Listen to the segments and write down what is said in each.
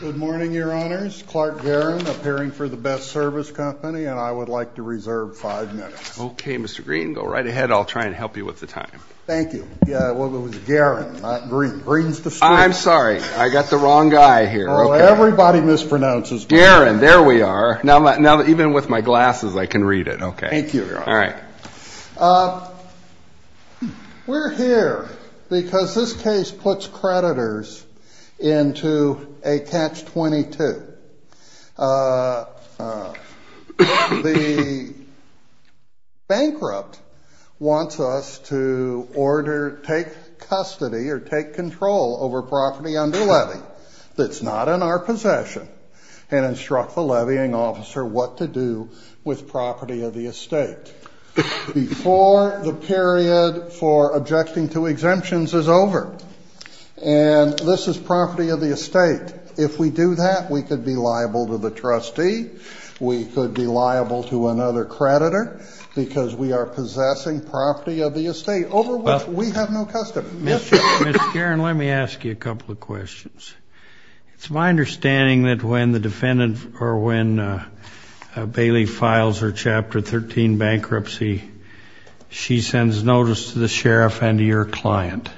Good morning, Your Honors. Clark Guerin, appearing for The Best Service Co. and I would like to reserve five minutes. Okay, Mr. Green. Go right ahead. I'll try and help you with the time. Thank you. Well, it was Guerin, not Green. Green's the school. I'm sorry. I got the wrong guy here. Oh, everybody mispronounces Guerin. Guerin. There we are. Now, even with my glasses, I can read it. Okay. Thank you, Your Honor. All right. We're here because this case puts creditors into a Catch-22. The bankrupt wants us to order, take custody or take control over property under levy that's not in our possession and instruct the levying officer what to do with property of the estate before the period for objecting to exemptions is over. And this is property of the estate. If we do that, we could be liable to the trustee. We could be liable to another creditor because we are possessing property of the estate over which we have no custody. Mr. Guerin, let me ask you a couple of questions. It's my understanding that when the defendant or when Bailey files her Chapter 13 bankruptcy, she sends notice to the sheriff and to your client.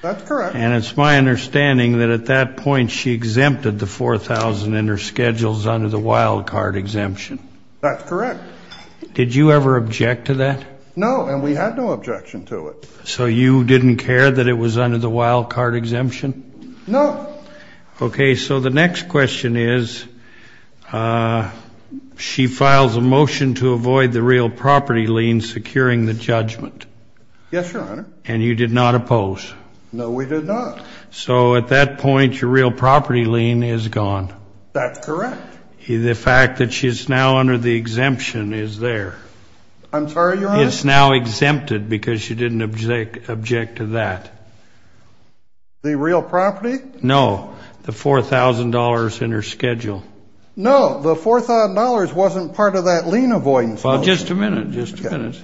That's correct. And it's my understanding that at that point she exempted the $4,000 in her schedules under the wild-card exemption. That's correct. Did you ever object to that? No, and we had no objection to it. So you didn't care that it was under the wild-card exemption? No. Okay, so the next question is she files a motion to avoid the real property lien securing the judgment. Yes, Your Honor. And you did not oppose? No, we did not. So at that point your real property lien is gone. That's correct. The fact that she's now under the exemption is there. I'm sorry, Your Honor? It's now exempted because she didn't object to that. The real property? No, the $4,000 in her schedule. No, the $4,000 wasn't part of that lien avoidance motion. Well, just a minute, just a minute.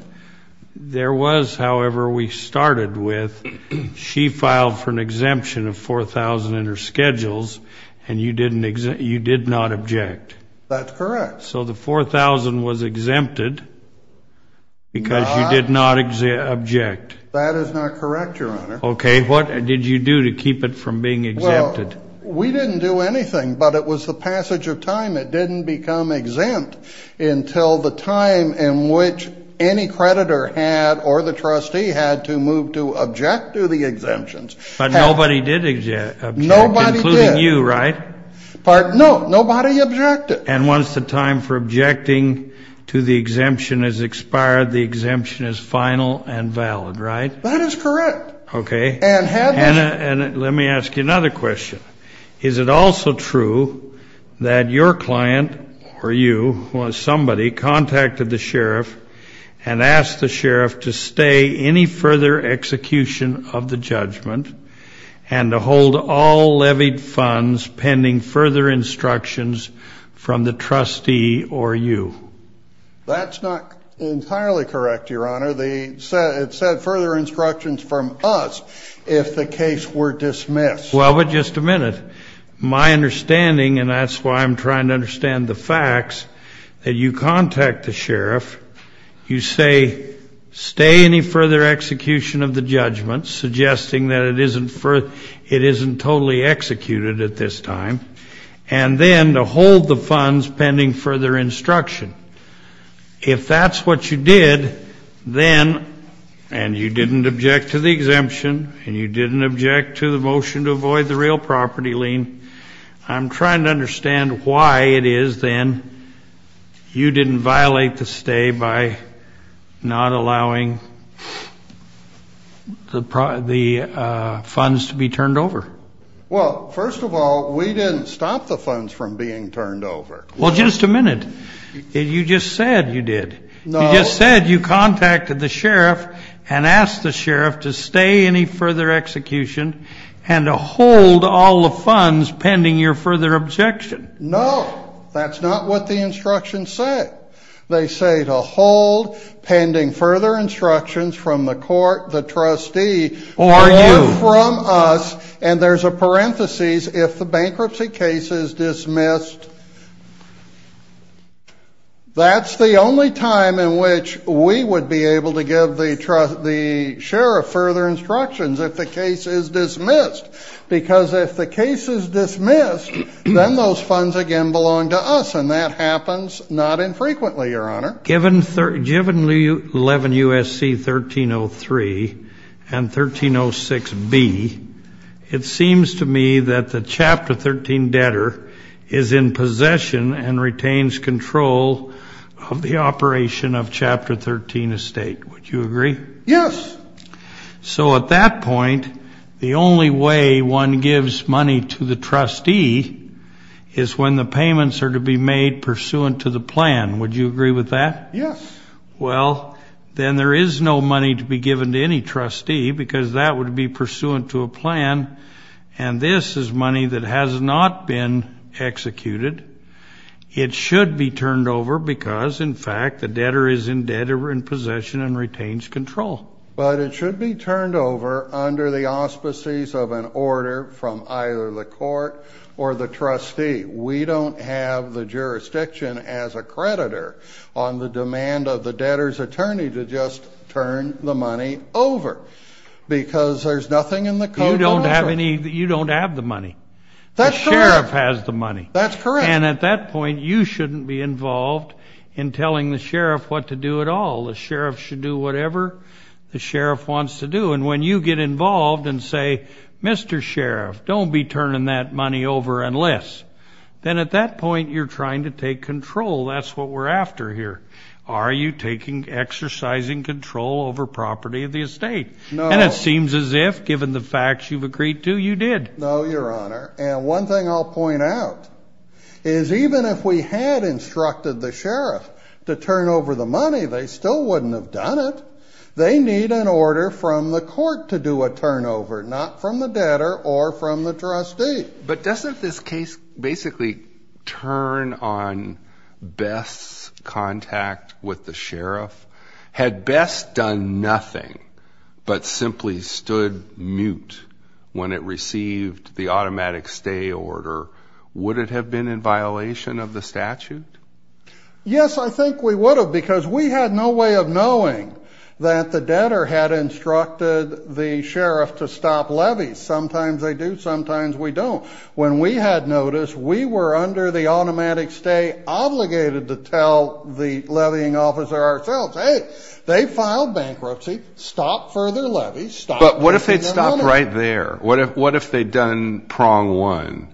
There was, however, we started with she filed for an exemption of $4,000 in her schedules and you did not object. That's correct. So the $4,000 was exempted because you did not object. That is not correct, Your Honor. Okay, what did you do to keep it from being exempted? Well, we didn't do anything, but it was the passage of time. It didn't become exempt until the time in which any creditor had or the trustee had to move to object to the exemptions. But nobody did object, including you, right? No, nobody objected. And once the time for objecting to the exemption has expired, the exemption is final and valid, right? That is correct. Okay, and let me ask you another question. Is it also true that your client or you or somebody contacted the sheriff and asked the sheriff to stay any further execution of the judgment and to hold all levied funds pending further instructions from the trustee or you? That's not entirely correct, Your Honor. It said further instructions from us if the case were dismissed. Well, but just a minute. My understanding, and that's why I'm trying to understand the facts, that you contact the sheriff, you say, stay any further execution of the judgment, suggesting that it isn't totally executed at this time, and then to hold the funds pending further instruction. If that's what you did, then, and you didn't object to the exemption, and you didn't object to the motion to avoid the real property lien, I'm trying to understand why it is, then, you didn't violate the stay by not allowing the funds to be turned over. Well, first of all, we didn't stop the funds from being turned over. Well, just a minute. You just said you did. No. You just said you contacted the sheriff and asked the sheriff to stay any further execution and to hold all the funds pending your further objection. No. That's not what the instructions said. They say to hold pending further instructions from the court, the trustee, or from us, and there's a parenthesis, if the bankruptcy case is dismissed, that's the only time in which we would be able to give the sheriff further instructions if the case is dismissed. Because if the case is dismissed, then those funds again belong to us, and that happens not infrequently, Your Honor. Given 11 U.S.C. 1303 and 1306B, it seems to me that the Chapter 13 debtor is in possession and retains control of the operation of Chapter 13 estate. Would you agree? Yes. So at that point, the only way one gives money to the trustee is when the payments are to be made pursuant to the plan. Would you agree with that? Yes. Well, then there is no money to be given to any trustee because that would be pursuant to a plan, and this is money that has not been executed. It should be turned over because, in fact, the debtor is indebted or in possession and retains control. But it should be turned over under the auspices of an order from either the court or the trustee. We don't have the jurisdiction as a creditor on the demand of the debtor's attorney to just turn the money over because there's nothing in the code. You don't have the money. The sheriff has the money. That's correct. And at that point, you shouldn't be involved in telling the sheriff what to do at all. The sheriff should do whatever the sheriff wants to do. And when you get involved and say, Mr. Sheriff, don't be turning that money over unless, then at that point you're trying to take control. That's what we're after here. Are you taking exercising control over property of the estate? No. And it seems as if, given the facts you've agreed to, you did. No, Your Honor. And one thing I'll point out is even if we had instructed the sheriff to turn over the money, they still wouldn't have done it. They need an order from the court to do a turnover, not from the debtor or from the trustee. But doesn't this case basically turn on Bess' contact with the sheriff? Had Bess done nothing but simply stood mute when it received the automatic stay order, would it have been in violation of the statute? Yes, I think we would have because we had no way of knowing that the debtor had instructed the sheriff to stop levies. Sometimes they do, sometimes we don't. When we had notice, we were under the automatic stay obligated to tell the levying officer ourselves, hey, they filed bankruptcy. Stop further levies. But what if they'd stopped right there? What if they'd done prong one,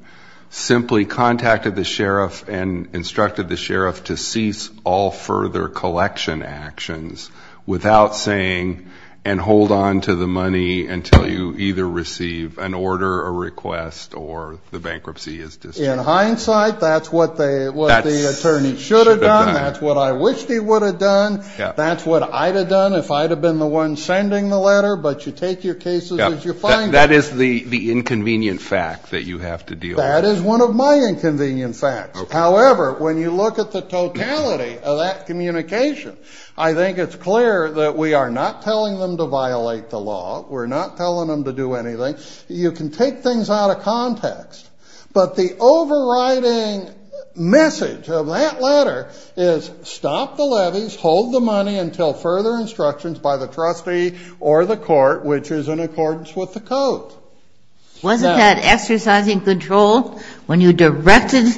simply contacted the sheriff and instructed the sheriff to cease all further collection actions without saying, and hold on to the money until you either receive an order, a request, or the bankruptcy is dismissed? In hindsight, that's what the attorney should have done. That's what I wished he would have done. That's what I'd have done if I'd have been the one sending the letter. But you take your cases as you find them. That is the inconvenient fact that you have to deal with. That is one of my inconvenient facts. However, when you look at the totality of that communication, I think it's clear that we are not telling them to violate the law. We're not telling them to do anything. You can take things out of context. But the overriding message of that letter is stop the levies, hold the money until further instructions by the trustee or the court, which is in accordance with the code. Wasn't that exercising control when you directed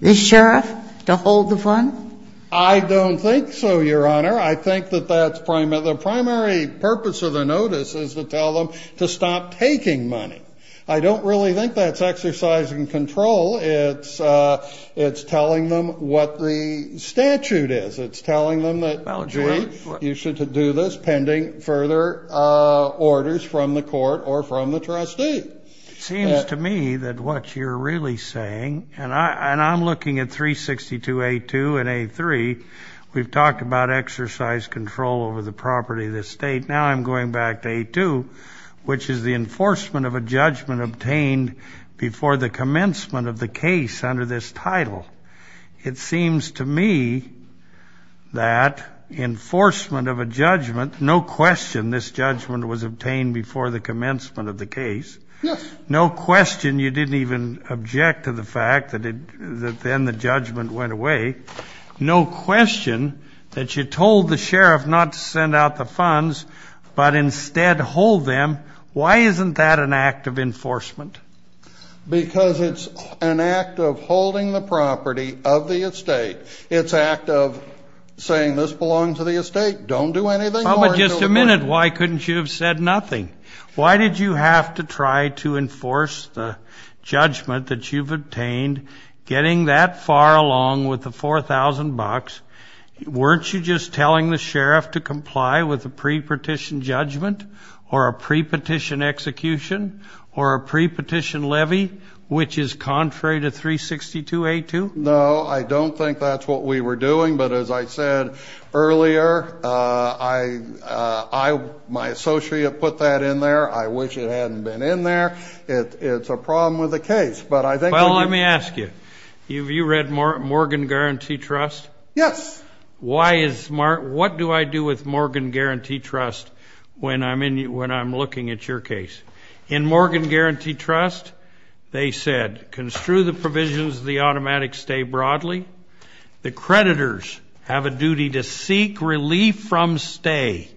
the sheriff to hold the fund? I don't think so, Your Honor. I think that that's the primary purpose of the notice is to tell them to stop taking money. I don't really think that's exercising control. It's telling them what the statute is. It's telling them that, gee, you should do this pending further orders from the court or from the trustee. It seems to me that what you're really saying, and I'm looking at 362A2 and A3, we've talked about exercise control over the property of the state. Now I'm going back to A2, which is the enforcement of a judgment obtained before the commencement of the case under this title. It seems to me that enforcement of a judgment, no question this judgment was obtained before the commencement of the case. Yes. No question you didn't even object to the fact that then the judgment went away. No question that you told the sheriff not to send out the funds but instead hold them. Why isn't that an act of enforcement? Because it's an act of holding the property of the estate. It's an act of saying this belongs to the estate. Don't do anything more until it's done. But just a minute, why couldn't you have said nothing? Why did you have to try to enforce the judgment that you've obtained, getting that far along with the $4,000? Weren't you just telling the sheriff to comply with a pre-petition judgment or a pre-petition execution or a pre-petition levy, which is contrary to 362A2? No, I don't think that's what we were doing. But as I said earlier, my associate put that in there. I wish it hadn't been in there. It's a problem with the case. Well, let me ask you, have you read Morgan Guarantee Trust? Yes. What do I do with Morgan Guarantee Trust when I'm looking at your case? In Morgan Guarantee Trust, they said, construe the provisions of the automatic stay broadly. The creditors have a duty to seek relief from stay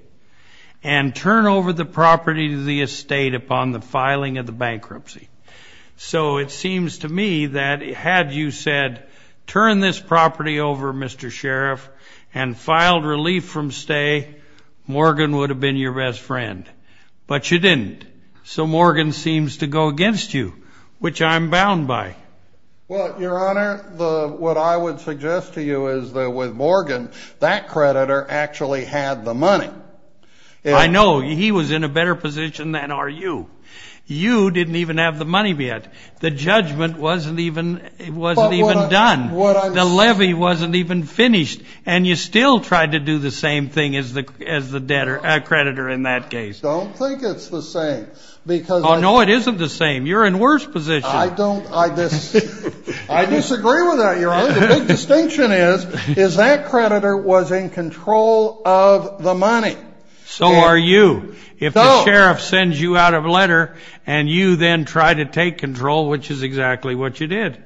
and turn over the property to the estate upon the filing of the bankruptcy. So it seems to me that had you said, turn this property over, Mr. Sheriff, and filed relief from stay, Morgan would have been your best friend. But you didn't. So Morgan seems to go against you, which I'm bound by. Well, Your Honor, what I would suggest to you is that with Morgan, that creditor actually had the money. I know. He was in a better position than are you. You didn't even have the money yet. The judgment wasn't even done. The levy wasn't even finished. And you still tried to do the same thing as the creditor in that case. I don't think it's the same. Oh, no, it isn't the same. You're in worse position. I disagree with that, Your Honor. The big distinction is that creditor was in control of the money. So are you. If the sheriff sends you out a letter and you then try to take control, which is exactly what you did.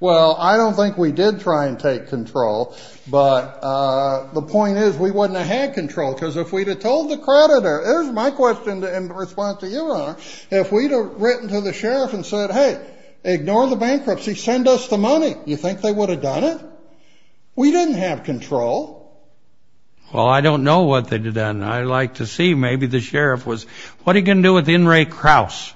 Well, I don't think we did try and take control. But the point is we wouldn't have had control because if we'd have told the creditor, here's my question in response to you, Your Honor, if we'd have written to the sheriff and said, hey, ignore the bankruptcy, send us the money, you think they would have done it? We didn't have control. And I'd like to see maybe the sheriff was, what are you going to do with In re Kraus?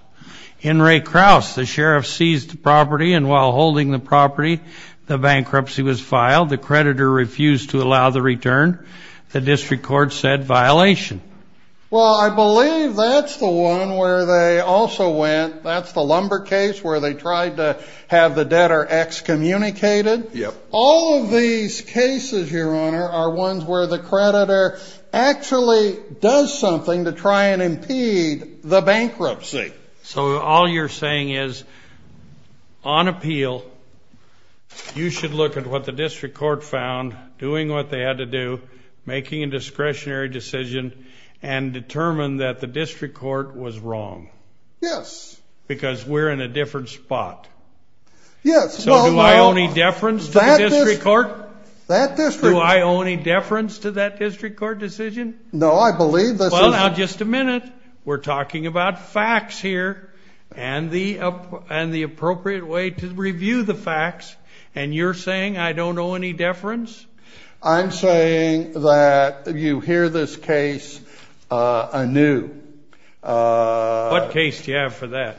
In re Kraus, the sheriff seized the property and while holding the property, the bankruptcy was filed. The creditor refused to allow the return. The district court said violation. Well, I believe that's the one where they also went. That's the lumber case where they tried to have the debtor excommunicated. Yep. All of these cases, Your Honor, are ones where the creditor actually does something to try and impede the bankruptcy. So all you're saying is on appeal, you should look at what the district court found doing what they had to do, making a discretionary decision, and determine that the district court was wrong. Yes. Because we're in a different spot. Yes. So do I owe any deference to the district court? That district court. Do I owe any deference to that district court decision? No, I believe this is. Well, now, just a minute. We're talking about facts here and the appropriate way to review the facts. And you're saying I don't owe any deference? I'm saying that you hear this case anew. What case do you have for that?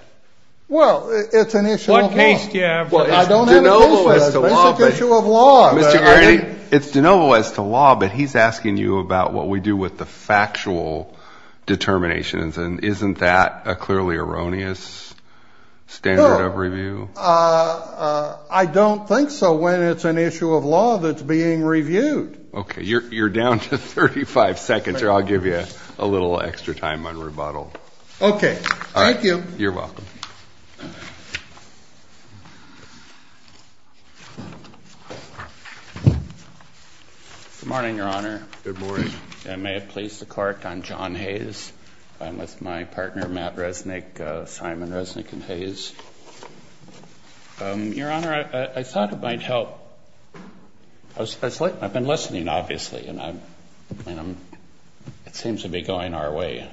Well, it's an issue of law. It's de novo as to law, but he's asking you about what we do with the factual determinations, and isn't that a clearly erroneous standard of review? No. I don't think so when it's an issue of law that's being reviewed. Okay. You're down to 35 seconds, or I'll give you a little extra time on rebuttal. Okay. Thank you. You're welcome. Good morning, Your Honor. Good morning. And may it please the Court, I'm John Hayes. I'm with my partner, Matt Resnick, Simon Resnick and Hayes. Your Honor, I thought it might help. I've been listening, obviously, and it seems to be going our way.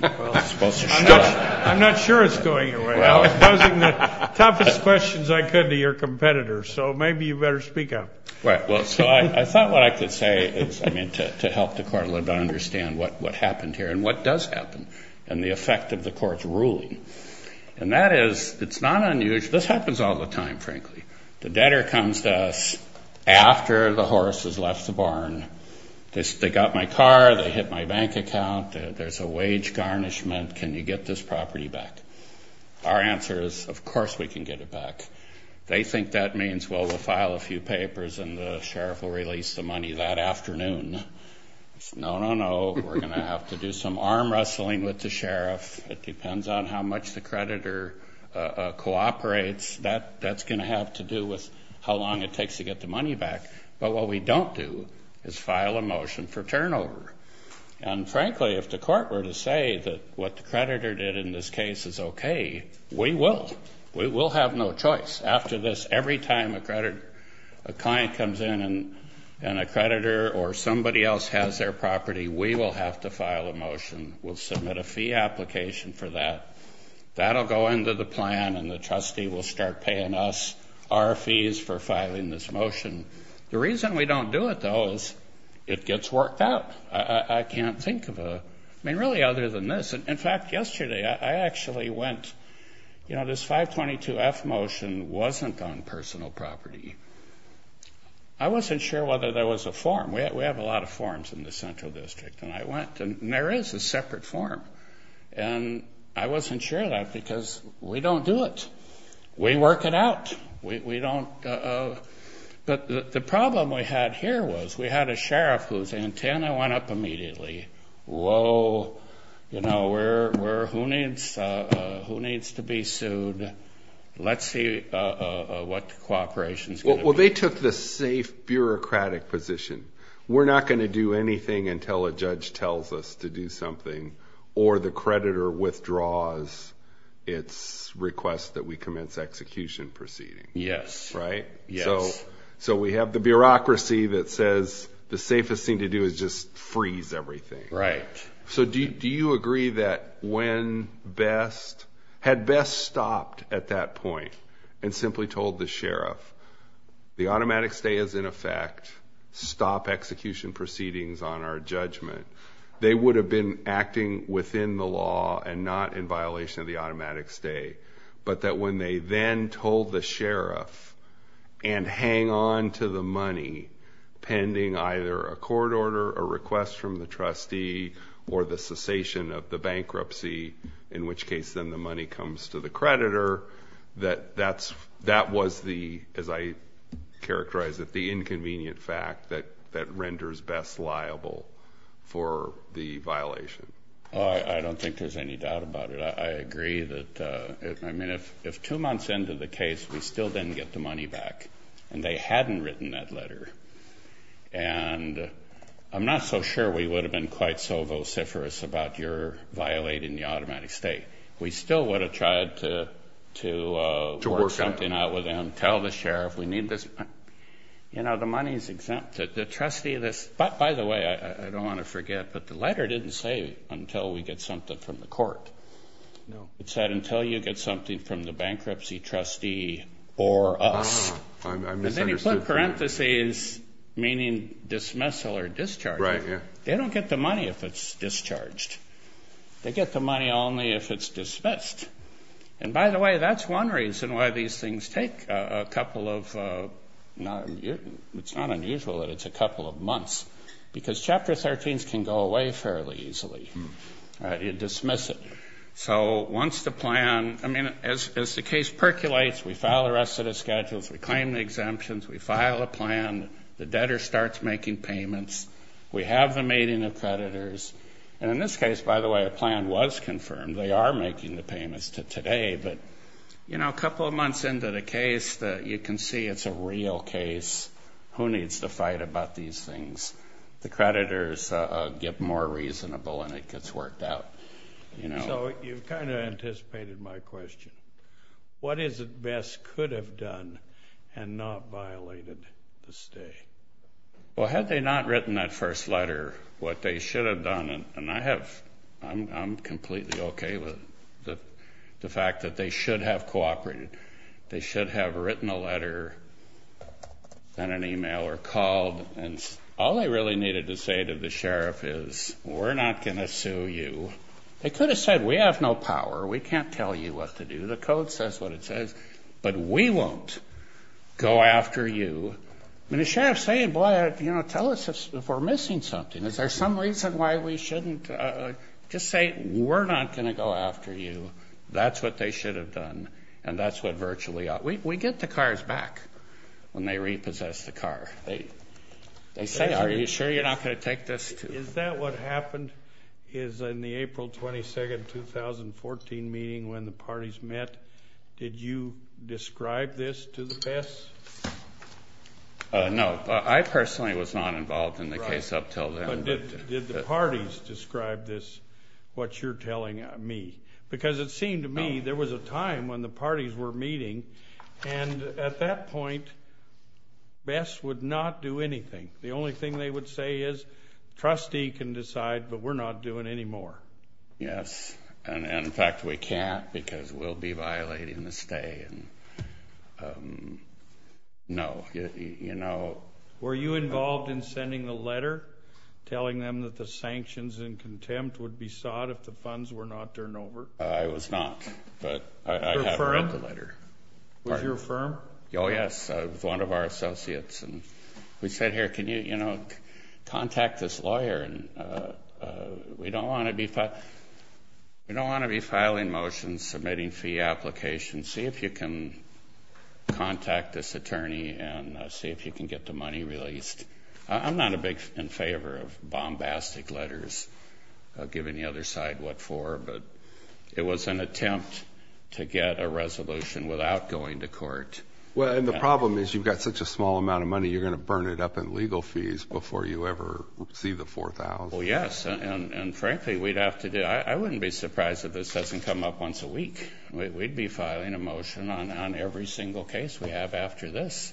Well, it's supposed to stop. I'm not sure it's going your way. I was posing the toughest questions I could to your competitors, so maybe you better speak up. Right. Well, so I thought what I could say is, I mean, to help the Court a little bit understand what happened here and what does happen and the effect of the Court's ruling. And that is it's not unusual. This happens all the time, frankly. The debtor comes to us after the horse has left the barn. They got my car. They hit my bank account. There's a wage garnishment. Can you get this property back? Our answer is, of course we can get it back. They think that means, well, we'll file a few papers and the sheriff will release the money that afternoon. No, no, no. We're going to have to do some arm wrestling with the sheriff. It depends on how much the creditor cooperates. That's going to have to do with how long it takes to get the money back. But what we don't do is file a motion for turnover. And, frankly, if the Court were to say that what the creditor did in this case is okay, we will. We will have no choice. After this, every time a client comes in and a creditor or somebody else has their property, we will have to file a motion. We'll submit a fee application for that. That will go into the plan and the trustee will start paying us our fees for filing this motion. The reason we don't do it, though, is it gets worked out. I can't think of a, I mean, really other than this. In fact, yesterday I actually went, you know, this 522F motion wasn't on personal property. I wasn't sure whether there was a form. We have a lot of forms in the Central District. And I went and there is a separate form. And I wasn't sure of that because we don't do it. We work it out. We don't. But the problem we had here was we had a sheriff whose antenna went up immediately. Whoa, you know, who needs to be sued? Let's see what the cooperation is going to be. Well, they took the safe bureaucratic position. We're not going to do anything until a judge tells us to do something or the creditor withdraws its request that we commence execution proceeding. Yes. Right? Yes. So we have the bureaucracy that says the safest thing to do is just freeze everything. Right. So do you agree that when best, had best stopped at that point and simply told the sheriff, the automatic stay is in effect, stop execution proceedings on our judgment, they would have been acting within the law and not in violation of the automatic stay, but that when they then told the sheriff and hang on to the money pending either a court order, a request from the trustee, or the cessation of the bankruptcy, in which case then the money comes to the creditor, that that was the, as I characterized it, the inconvenient fact that renders best liable for the violation? I don't think there's any doubt about it. I agree that, I mean, if two months into the case we still didn't get the money back and they hadn't written that letter, and I'm not so sure we would have been quite so vociferous about your violating the automatic stay. We still would have tried to work something out with them, tell the sheriff we need this money. You know, the money is exempt. The trustee, this, by the way, I don't want to forget, but the letter didn't say until we get something from the court. No. It said until you get something from the bankruptcy trustee or us. I misunderstood. And then he put parentheses meaning dismissal or discharge. Right, yeah. They don't get the money if it's discharged. They get the money only if it's dismissed. And, by the way, that's one reason why these things take a couple of, it's not unusual that it's a couple of months, because Chapter 13s can go away fairly easily. You dismiss it. So once the plan, I mean, as the case percolates, we file the rest of the schedules, we claim the exemptions, we file a plan, the debtor starts making payments, we have the mating of creditors, and in this case, by the way, a plan was confirmed. They are making the payments to today. But, you know, a couple of months into the case, you can see it's a real case. Who needs to fight about these things? The creditors get more reasonable and it gets worked out. So you've kind of anticipated my question. What is it BESS could have done and not violated the stay? Well, had they not written that first letter, what they should have done, and I have, I'm completely okay with the fact that they should have cooperated. They should have written a letter and an email or called, and all they really needed to say to the sheriff is, we're not going to sue you. They could have said, we have no power, we can't tell you what to do, the code says what it says, but we won't go after you. I mean, the sheriff's saying, boy, you know, tell us if we're missing something. Is there some reason why we shouldn't just say, we're not going to go after you. That's what they should have done, and that's what virtually ought, we get the cars back when they repossess the car. They say, are you sure you're not going to take this to. Is that what happened is in the April 22nd, 2014 meeting when the parties met, did you describe this to the Bess? No, I personally was not involved in the case up until then. Did the parties describe this, what you're telling me? Because it seemed to me there was a time when the parties were meeting, and at that point, Bess would not do anything. The only thing they would say is, trustee can decide, but we're not doing any more. Yes, and in fact, we can't because we'll be violating the stay. No. Were you involved in sending a letter telling them that the sanctions and contempt would be sought if the funds were not turned over? I was not, but I have read the letter. Was your firm? Oh, yes. It was one of our associates, and we said here, can you contact this lawyer? We don't want to be filing motions, submitting fee applications. See if you can contact this attorney and see if you can get the money released. I'm not in favor of bombastic letters giving the other side what for, but it was an attempt to get a resolution without going to court. Well, and the problem is you've got such a small amount of money, you're going to burn it up in legal fees before you ever see the $4,000. Well, yes, and frankly, we'd have to do it. I wouldn't be surprised if this doesn't come up once a week. We'd be filing a motion on every single case we have after this,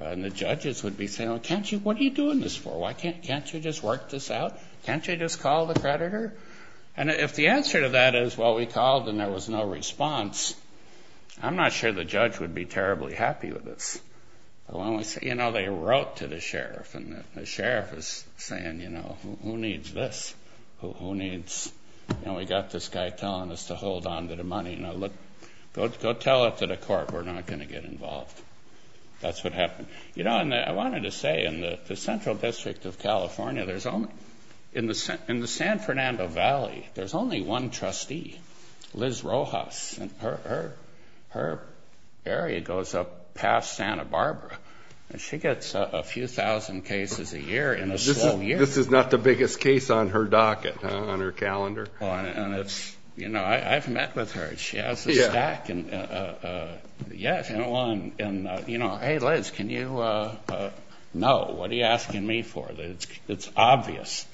and the judges would be saying, what are you doing this for? Can't you just work this out? Can't you just call the creditor? And if the answer to that is, well, we called and there was no response, I'm not sure the judge would be terribly happy with this. You know, they wrote to the sheriff, and the sheriff is saying, you know, who needs this? Who needs, you know, we've got this guy telling us to hold on to the money. Go tell it to the court. We're not going to get involved. That's what happened. You know, and I wanted to say in the central district of California, in the San Fernando Valley, there's only one trustee, Liz Rojas, and her area goes up past Santa Barbara, and she gets a few thousand cases a year in a small year. This is not the biggest case on her docket, on her calendar. And it's, you know, I've met with her. She has a stack, and, yes, you know, hey, Liz, can you know, what are you asking me for? It's obvious.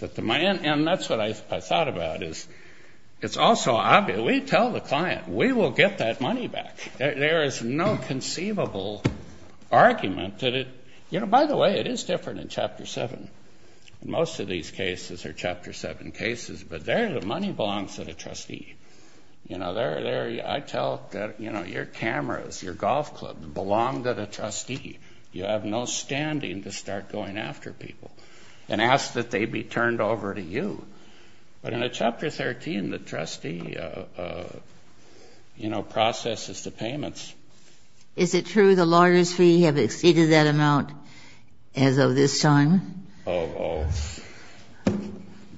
And that's what I thought about, is it's also obvious. So we tell the client, we will get that money back. There is no conceivable argument that it, you know, by the way, it is different in Chapter 7. Most of these cases are Chapter 7 cases, but there the money belongs to the trustee. You know, I tell, you know, your cameras, your golf club belong to the trustee. You have no standing to start going after people and ask that they be turned over to you. But in Chapter 13, the trustee, you know, processes the payments. Is it true the lawyers fee have exceeded that amount as of this time? Oh,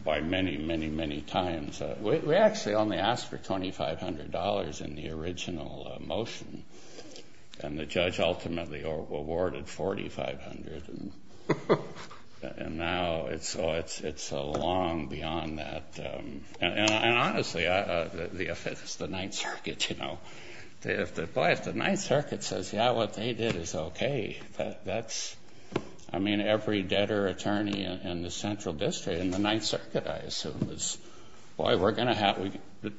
by many, many, many times. We actually only asked for $2,500 in the original motion, and the judge ultimately awarded $4,500. And now it's so long beyond that. And honestly, if it's the Ninth Circuit, you know, boy, if the Ninth Circuit says, yeah, what they did is okay, that's, I mean, every debtor attorney in the Central District in the Ninth Circuit, I assume, is, boy, we're going to have,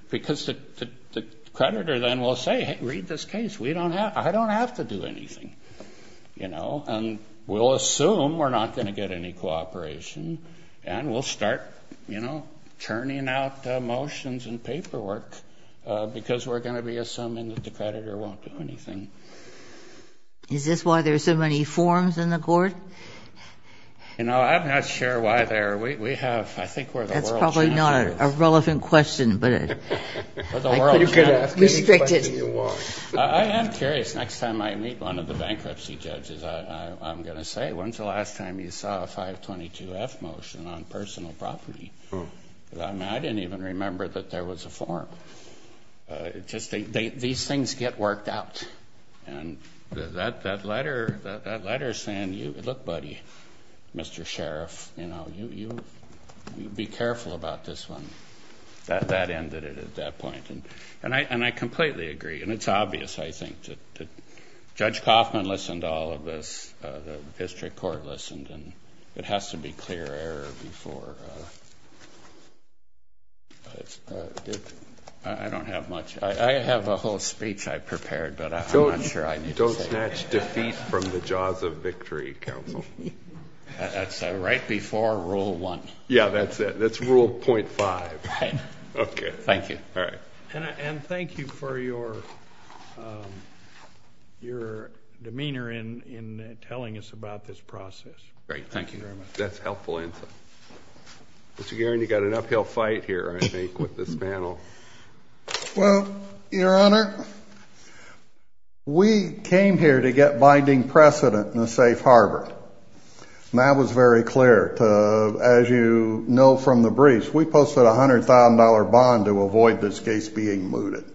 because the creditor then will say, hey, read this case. We don't have, I don't have to do anything, you know. And we'll assume we're not going to get any cooperation, and we'll start, you know, churning out motions and paperwork because we're going to be assuming that the creditor won't do anything. Is this why there are so many forms in the court? You know, I'm not sure why there are. We have, I think we're the world's chance. That's probably not a relevant question, but I could ask any question you want. I am curious, next time I meet one of the bankruptcy judges, I'm going to say, when's the last time you saw a 522-F motion on personal property? I didn't even remember that there was a form. These things get worked out. And that letter is saying, look, buddy, Mr. Sheriff, you know, you be careful about this one. That ended it at that point. And I completely agree, and it's obvious, I think, that Judge Coffman listened to all of this, the district court listened, and it has to be clear error before. I don't have much. I have a whole speech I prepared, but I'm not sure I need to say it. Don't snatch defeat from the jaws of victory, counsel. That's right before Rule 1. Yeah, that's it. That's Rule .5. Right. Okay. Thank you. All right. And thank you for your demeanor in telling us about this process. Great. Thank you very much. That's helpful. Mr. Geary, you've got an uphill fight here, I think, with this panel. Well, Your Honor, we came here to get binding precedent in a safe harbor. And that was very clear. As you know from the briefs, we posted a $100,000 bond to avoid this case being mooted.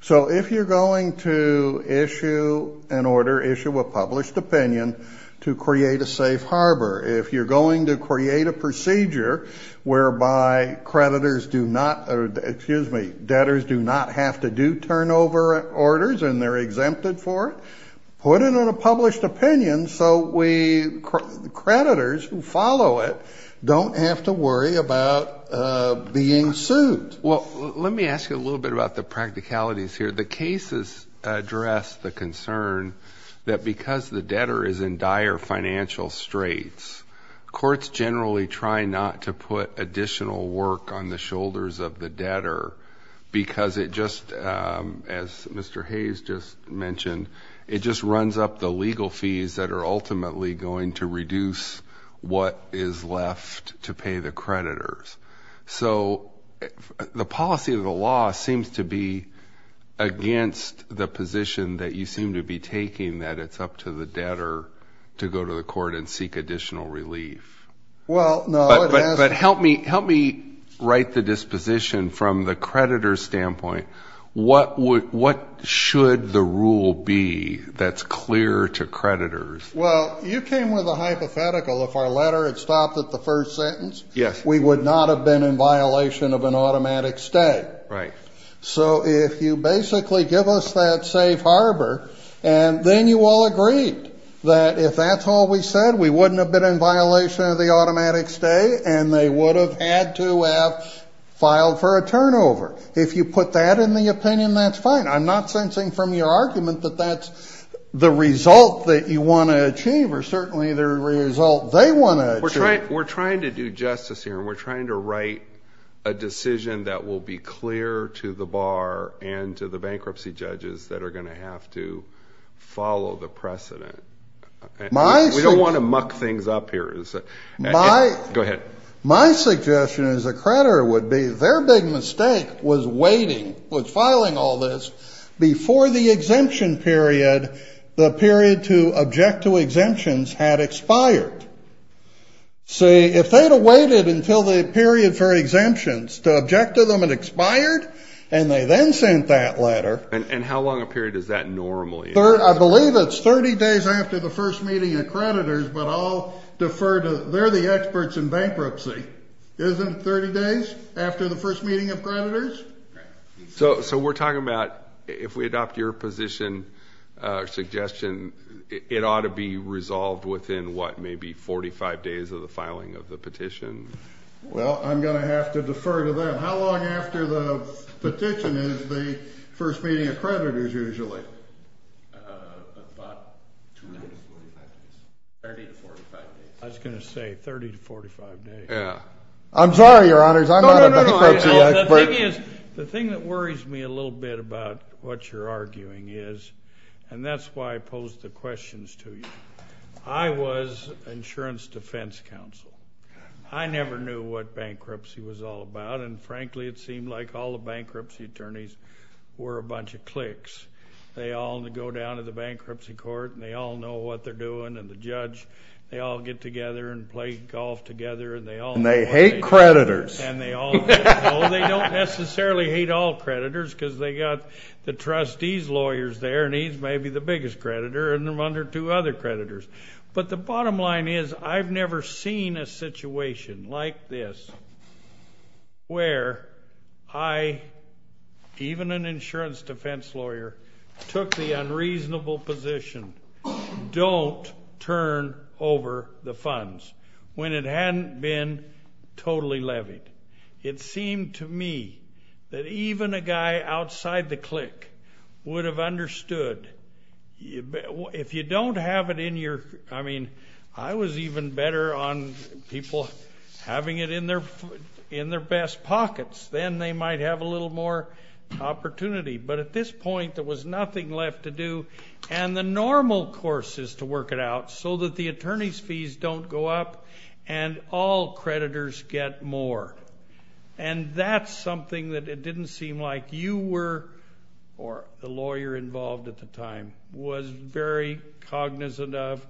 So if you're going to issue an order, issue a published opinion to create a safe harbor, if you're going to create a procedure whereby creditors do not or, excuse me, debtors do not have to do turnover orders and they're exempted for it, put it on a published opinion so creditors who follow it don't have to worry about being sued. Well, let me ask you a little bit about the practicalities here. The cases address the concern that because the debtor is in dire financial straits, courts generally try not to put additional work on the shoulders of the debtor because it just, as Mr. Hayes just mentioned, it just runs up the legal fees that are ultimately going to reduce what is left to pay the creditors. So the policy of the law seems to be against the position that you seem to be taking, that it's up to the debtor to go to the court and seek additional relief. Well, no. But help me write the disposition from the creditor's standpoint. What should the rule be that's clear to creditors? Well, you came with a hypothetical. If our letter had stopped at the first sentence, we would not have been in violation of an automatic stay. Right. So if you basically give us that safe harbor and then you all agreed that if that's all we said, we wouldn't have been in violation of the automatic stay and they would have had to have filed for a turnover. If you put that in the opinion, that's fine. I'm not sensing from your argument that that's the result that you want to achieve or certainly the result they want to achieve. We're trying to do justice here and we're trying to write a decision that will be clear to the bar and to the bankruptcy judges that are going to have to follow the precedent. We don't want to muck things up here. Go ahead. My suggestion as a creditor would be their big mistake was filing all this before the exemption period, the period to object to exemptions had expired. See, if they had waited until the period for exemptions to object to them had expired and they then sent that letter. And how long a period is that normally? I believe it's 30 days after the first meeting of creditors, but I'll defer to, they're the experts in bankruptcy. Isn't it 30 days after the first meeting of creditors? So we're talking about if we adopt your position or suggestion, it ought to be resolved within what, maybe 45 days of the filing of the petition? Well, I'm going to have to defer to them. How long after the petition is the first meeting of creditors usually? About 30 to 45 days. I was going to say 30 to 45 days. Yeah. I'm sorry, Your Honors, I'm not a bankruptcy expert. No, no, no, the thing is, the thing that worries me a little bit about what you're arguing is, and that's why I posed the questions to you, I was insurance defense counsel. I never knew what bankruptcy was all about. And frankly, it seemed like all the bankruptcy attorneys were a bunch of cliques. They all go down to the bankruptcy court and they all know what they're doing. And the judge, they all get together and play golf together and they all know what they're doing. And they hate creditors. And they all know. They don't necessarily hate all creditors because they got the trustee's lawyers there and he's maybe the biggest creditor and they're under two other creditors. But the bottom line is I've never seen a situation like this where I, even an insurance defense lawyer, took the unreasonable position, don't turn over the funds, when it hadn't been totally levied. It seemed to me that even a guy outside the clique would have understood. If you don't have it in your, I mean, I was even better on people having it in their best pockets. Then they might have a little more opportunity. But at this point there was nothing left to do and the normal course is to work it out so that the attorney's fees don't go up and all creditors get more. And that's something that it didn't seem like you were, or the lawyer involved at the time, was very cognizant of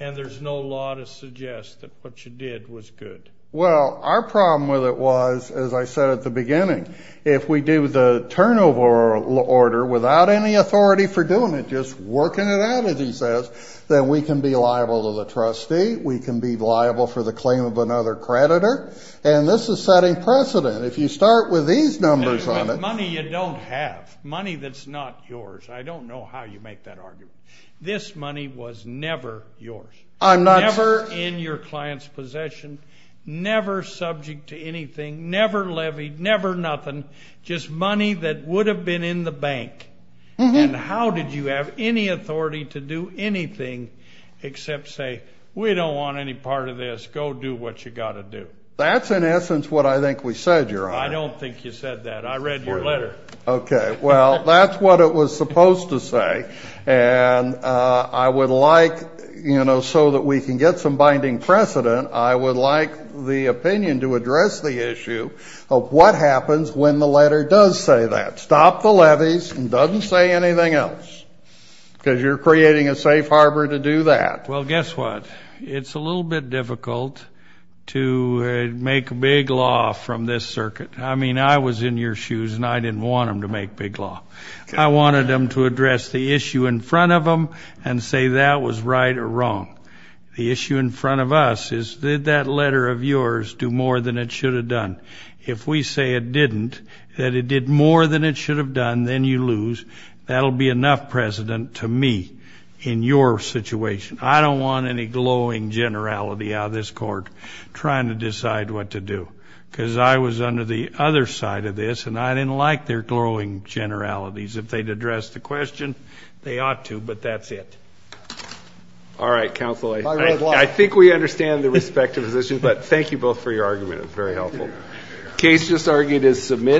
and there's no law to suggest that what you did was good. Well, our problem with it was, as I said at the beginning, if we do the turnover order without any authority for doing it, just working it out as he says, then we can be liable to the trustee. We can be liable for the claim of another creditor. And this is setting precedent. If you start with these numbers on it. Money you don't have. Money that's not yours. I don't know how you make that argument. This money was never yours. Never in your client's possession. Never subject to anything. Never levied. Never nothing. Just money that would have been in the bank. And how did you have any authority to do anything except say, We don't want any part of this. Go do what you've got to do. That's in essence what I think we said, Your Honor. I don't think you said that. I read your letter. Okay. Well, that's what it was supposed to say. And I would like, you know, so that we can get some binding precedent, I would like the opinion to address the issue of what happens when the letter does say that. Stop the levies and doesn't say anything else. Because you're creating a safe harbor to do that. Well, guess what? It's a little bit difficult to make big law from this circuit. I mean, I was in your shoes, and I didn't want them to make big law. I wanted them to address the issue in front of them and say that was right or wrong. The issue in front of us is, Did that letter of yours do more than it should have done? If we say it didn't, that it did more than it should have done, then you lose. That will be enough precedent to me in your situation. I don't want any glowing generality out of this court trying to decide what to do. Because I was under the other side of this, and I didn't like their glowing generalities. If they'd addressed the question, they ought to, but that's it. All right, counsel. I think we understand the respective positions, but thank you both for your argument. It was very helpful. The case just argued is submitted.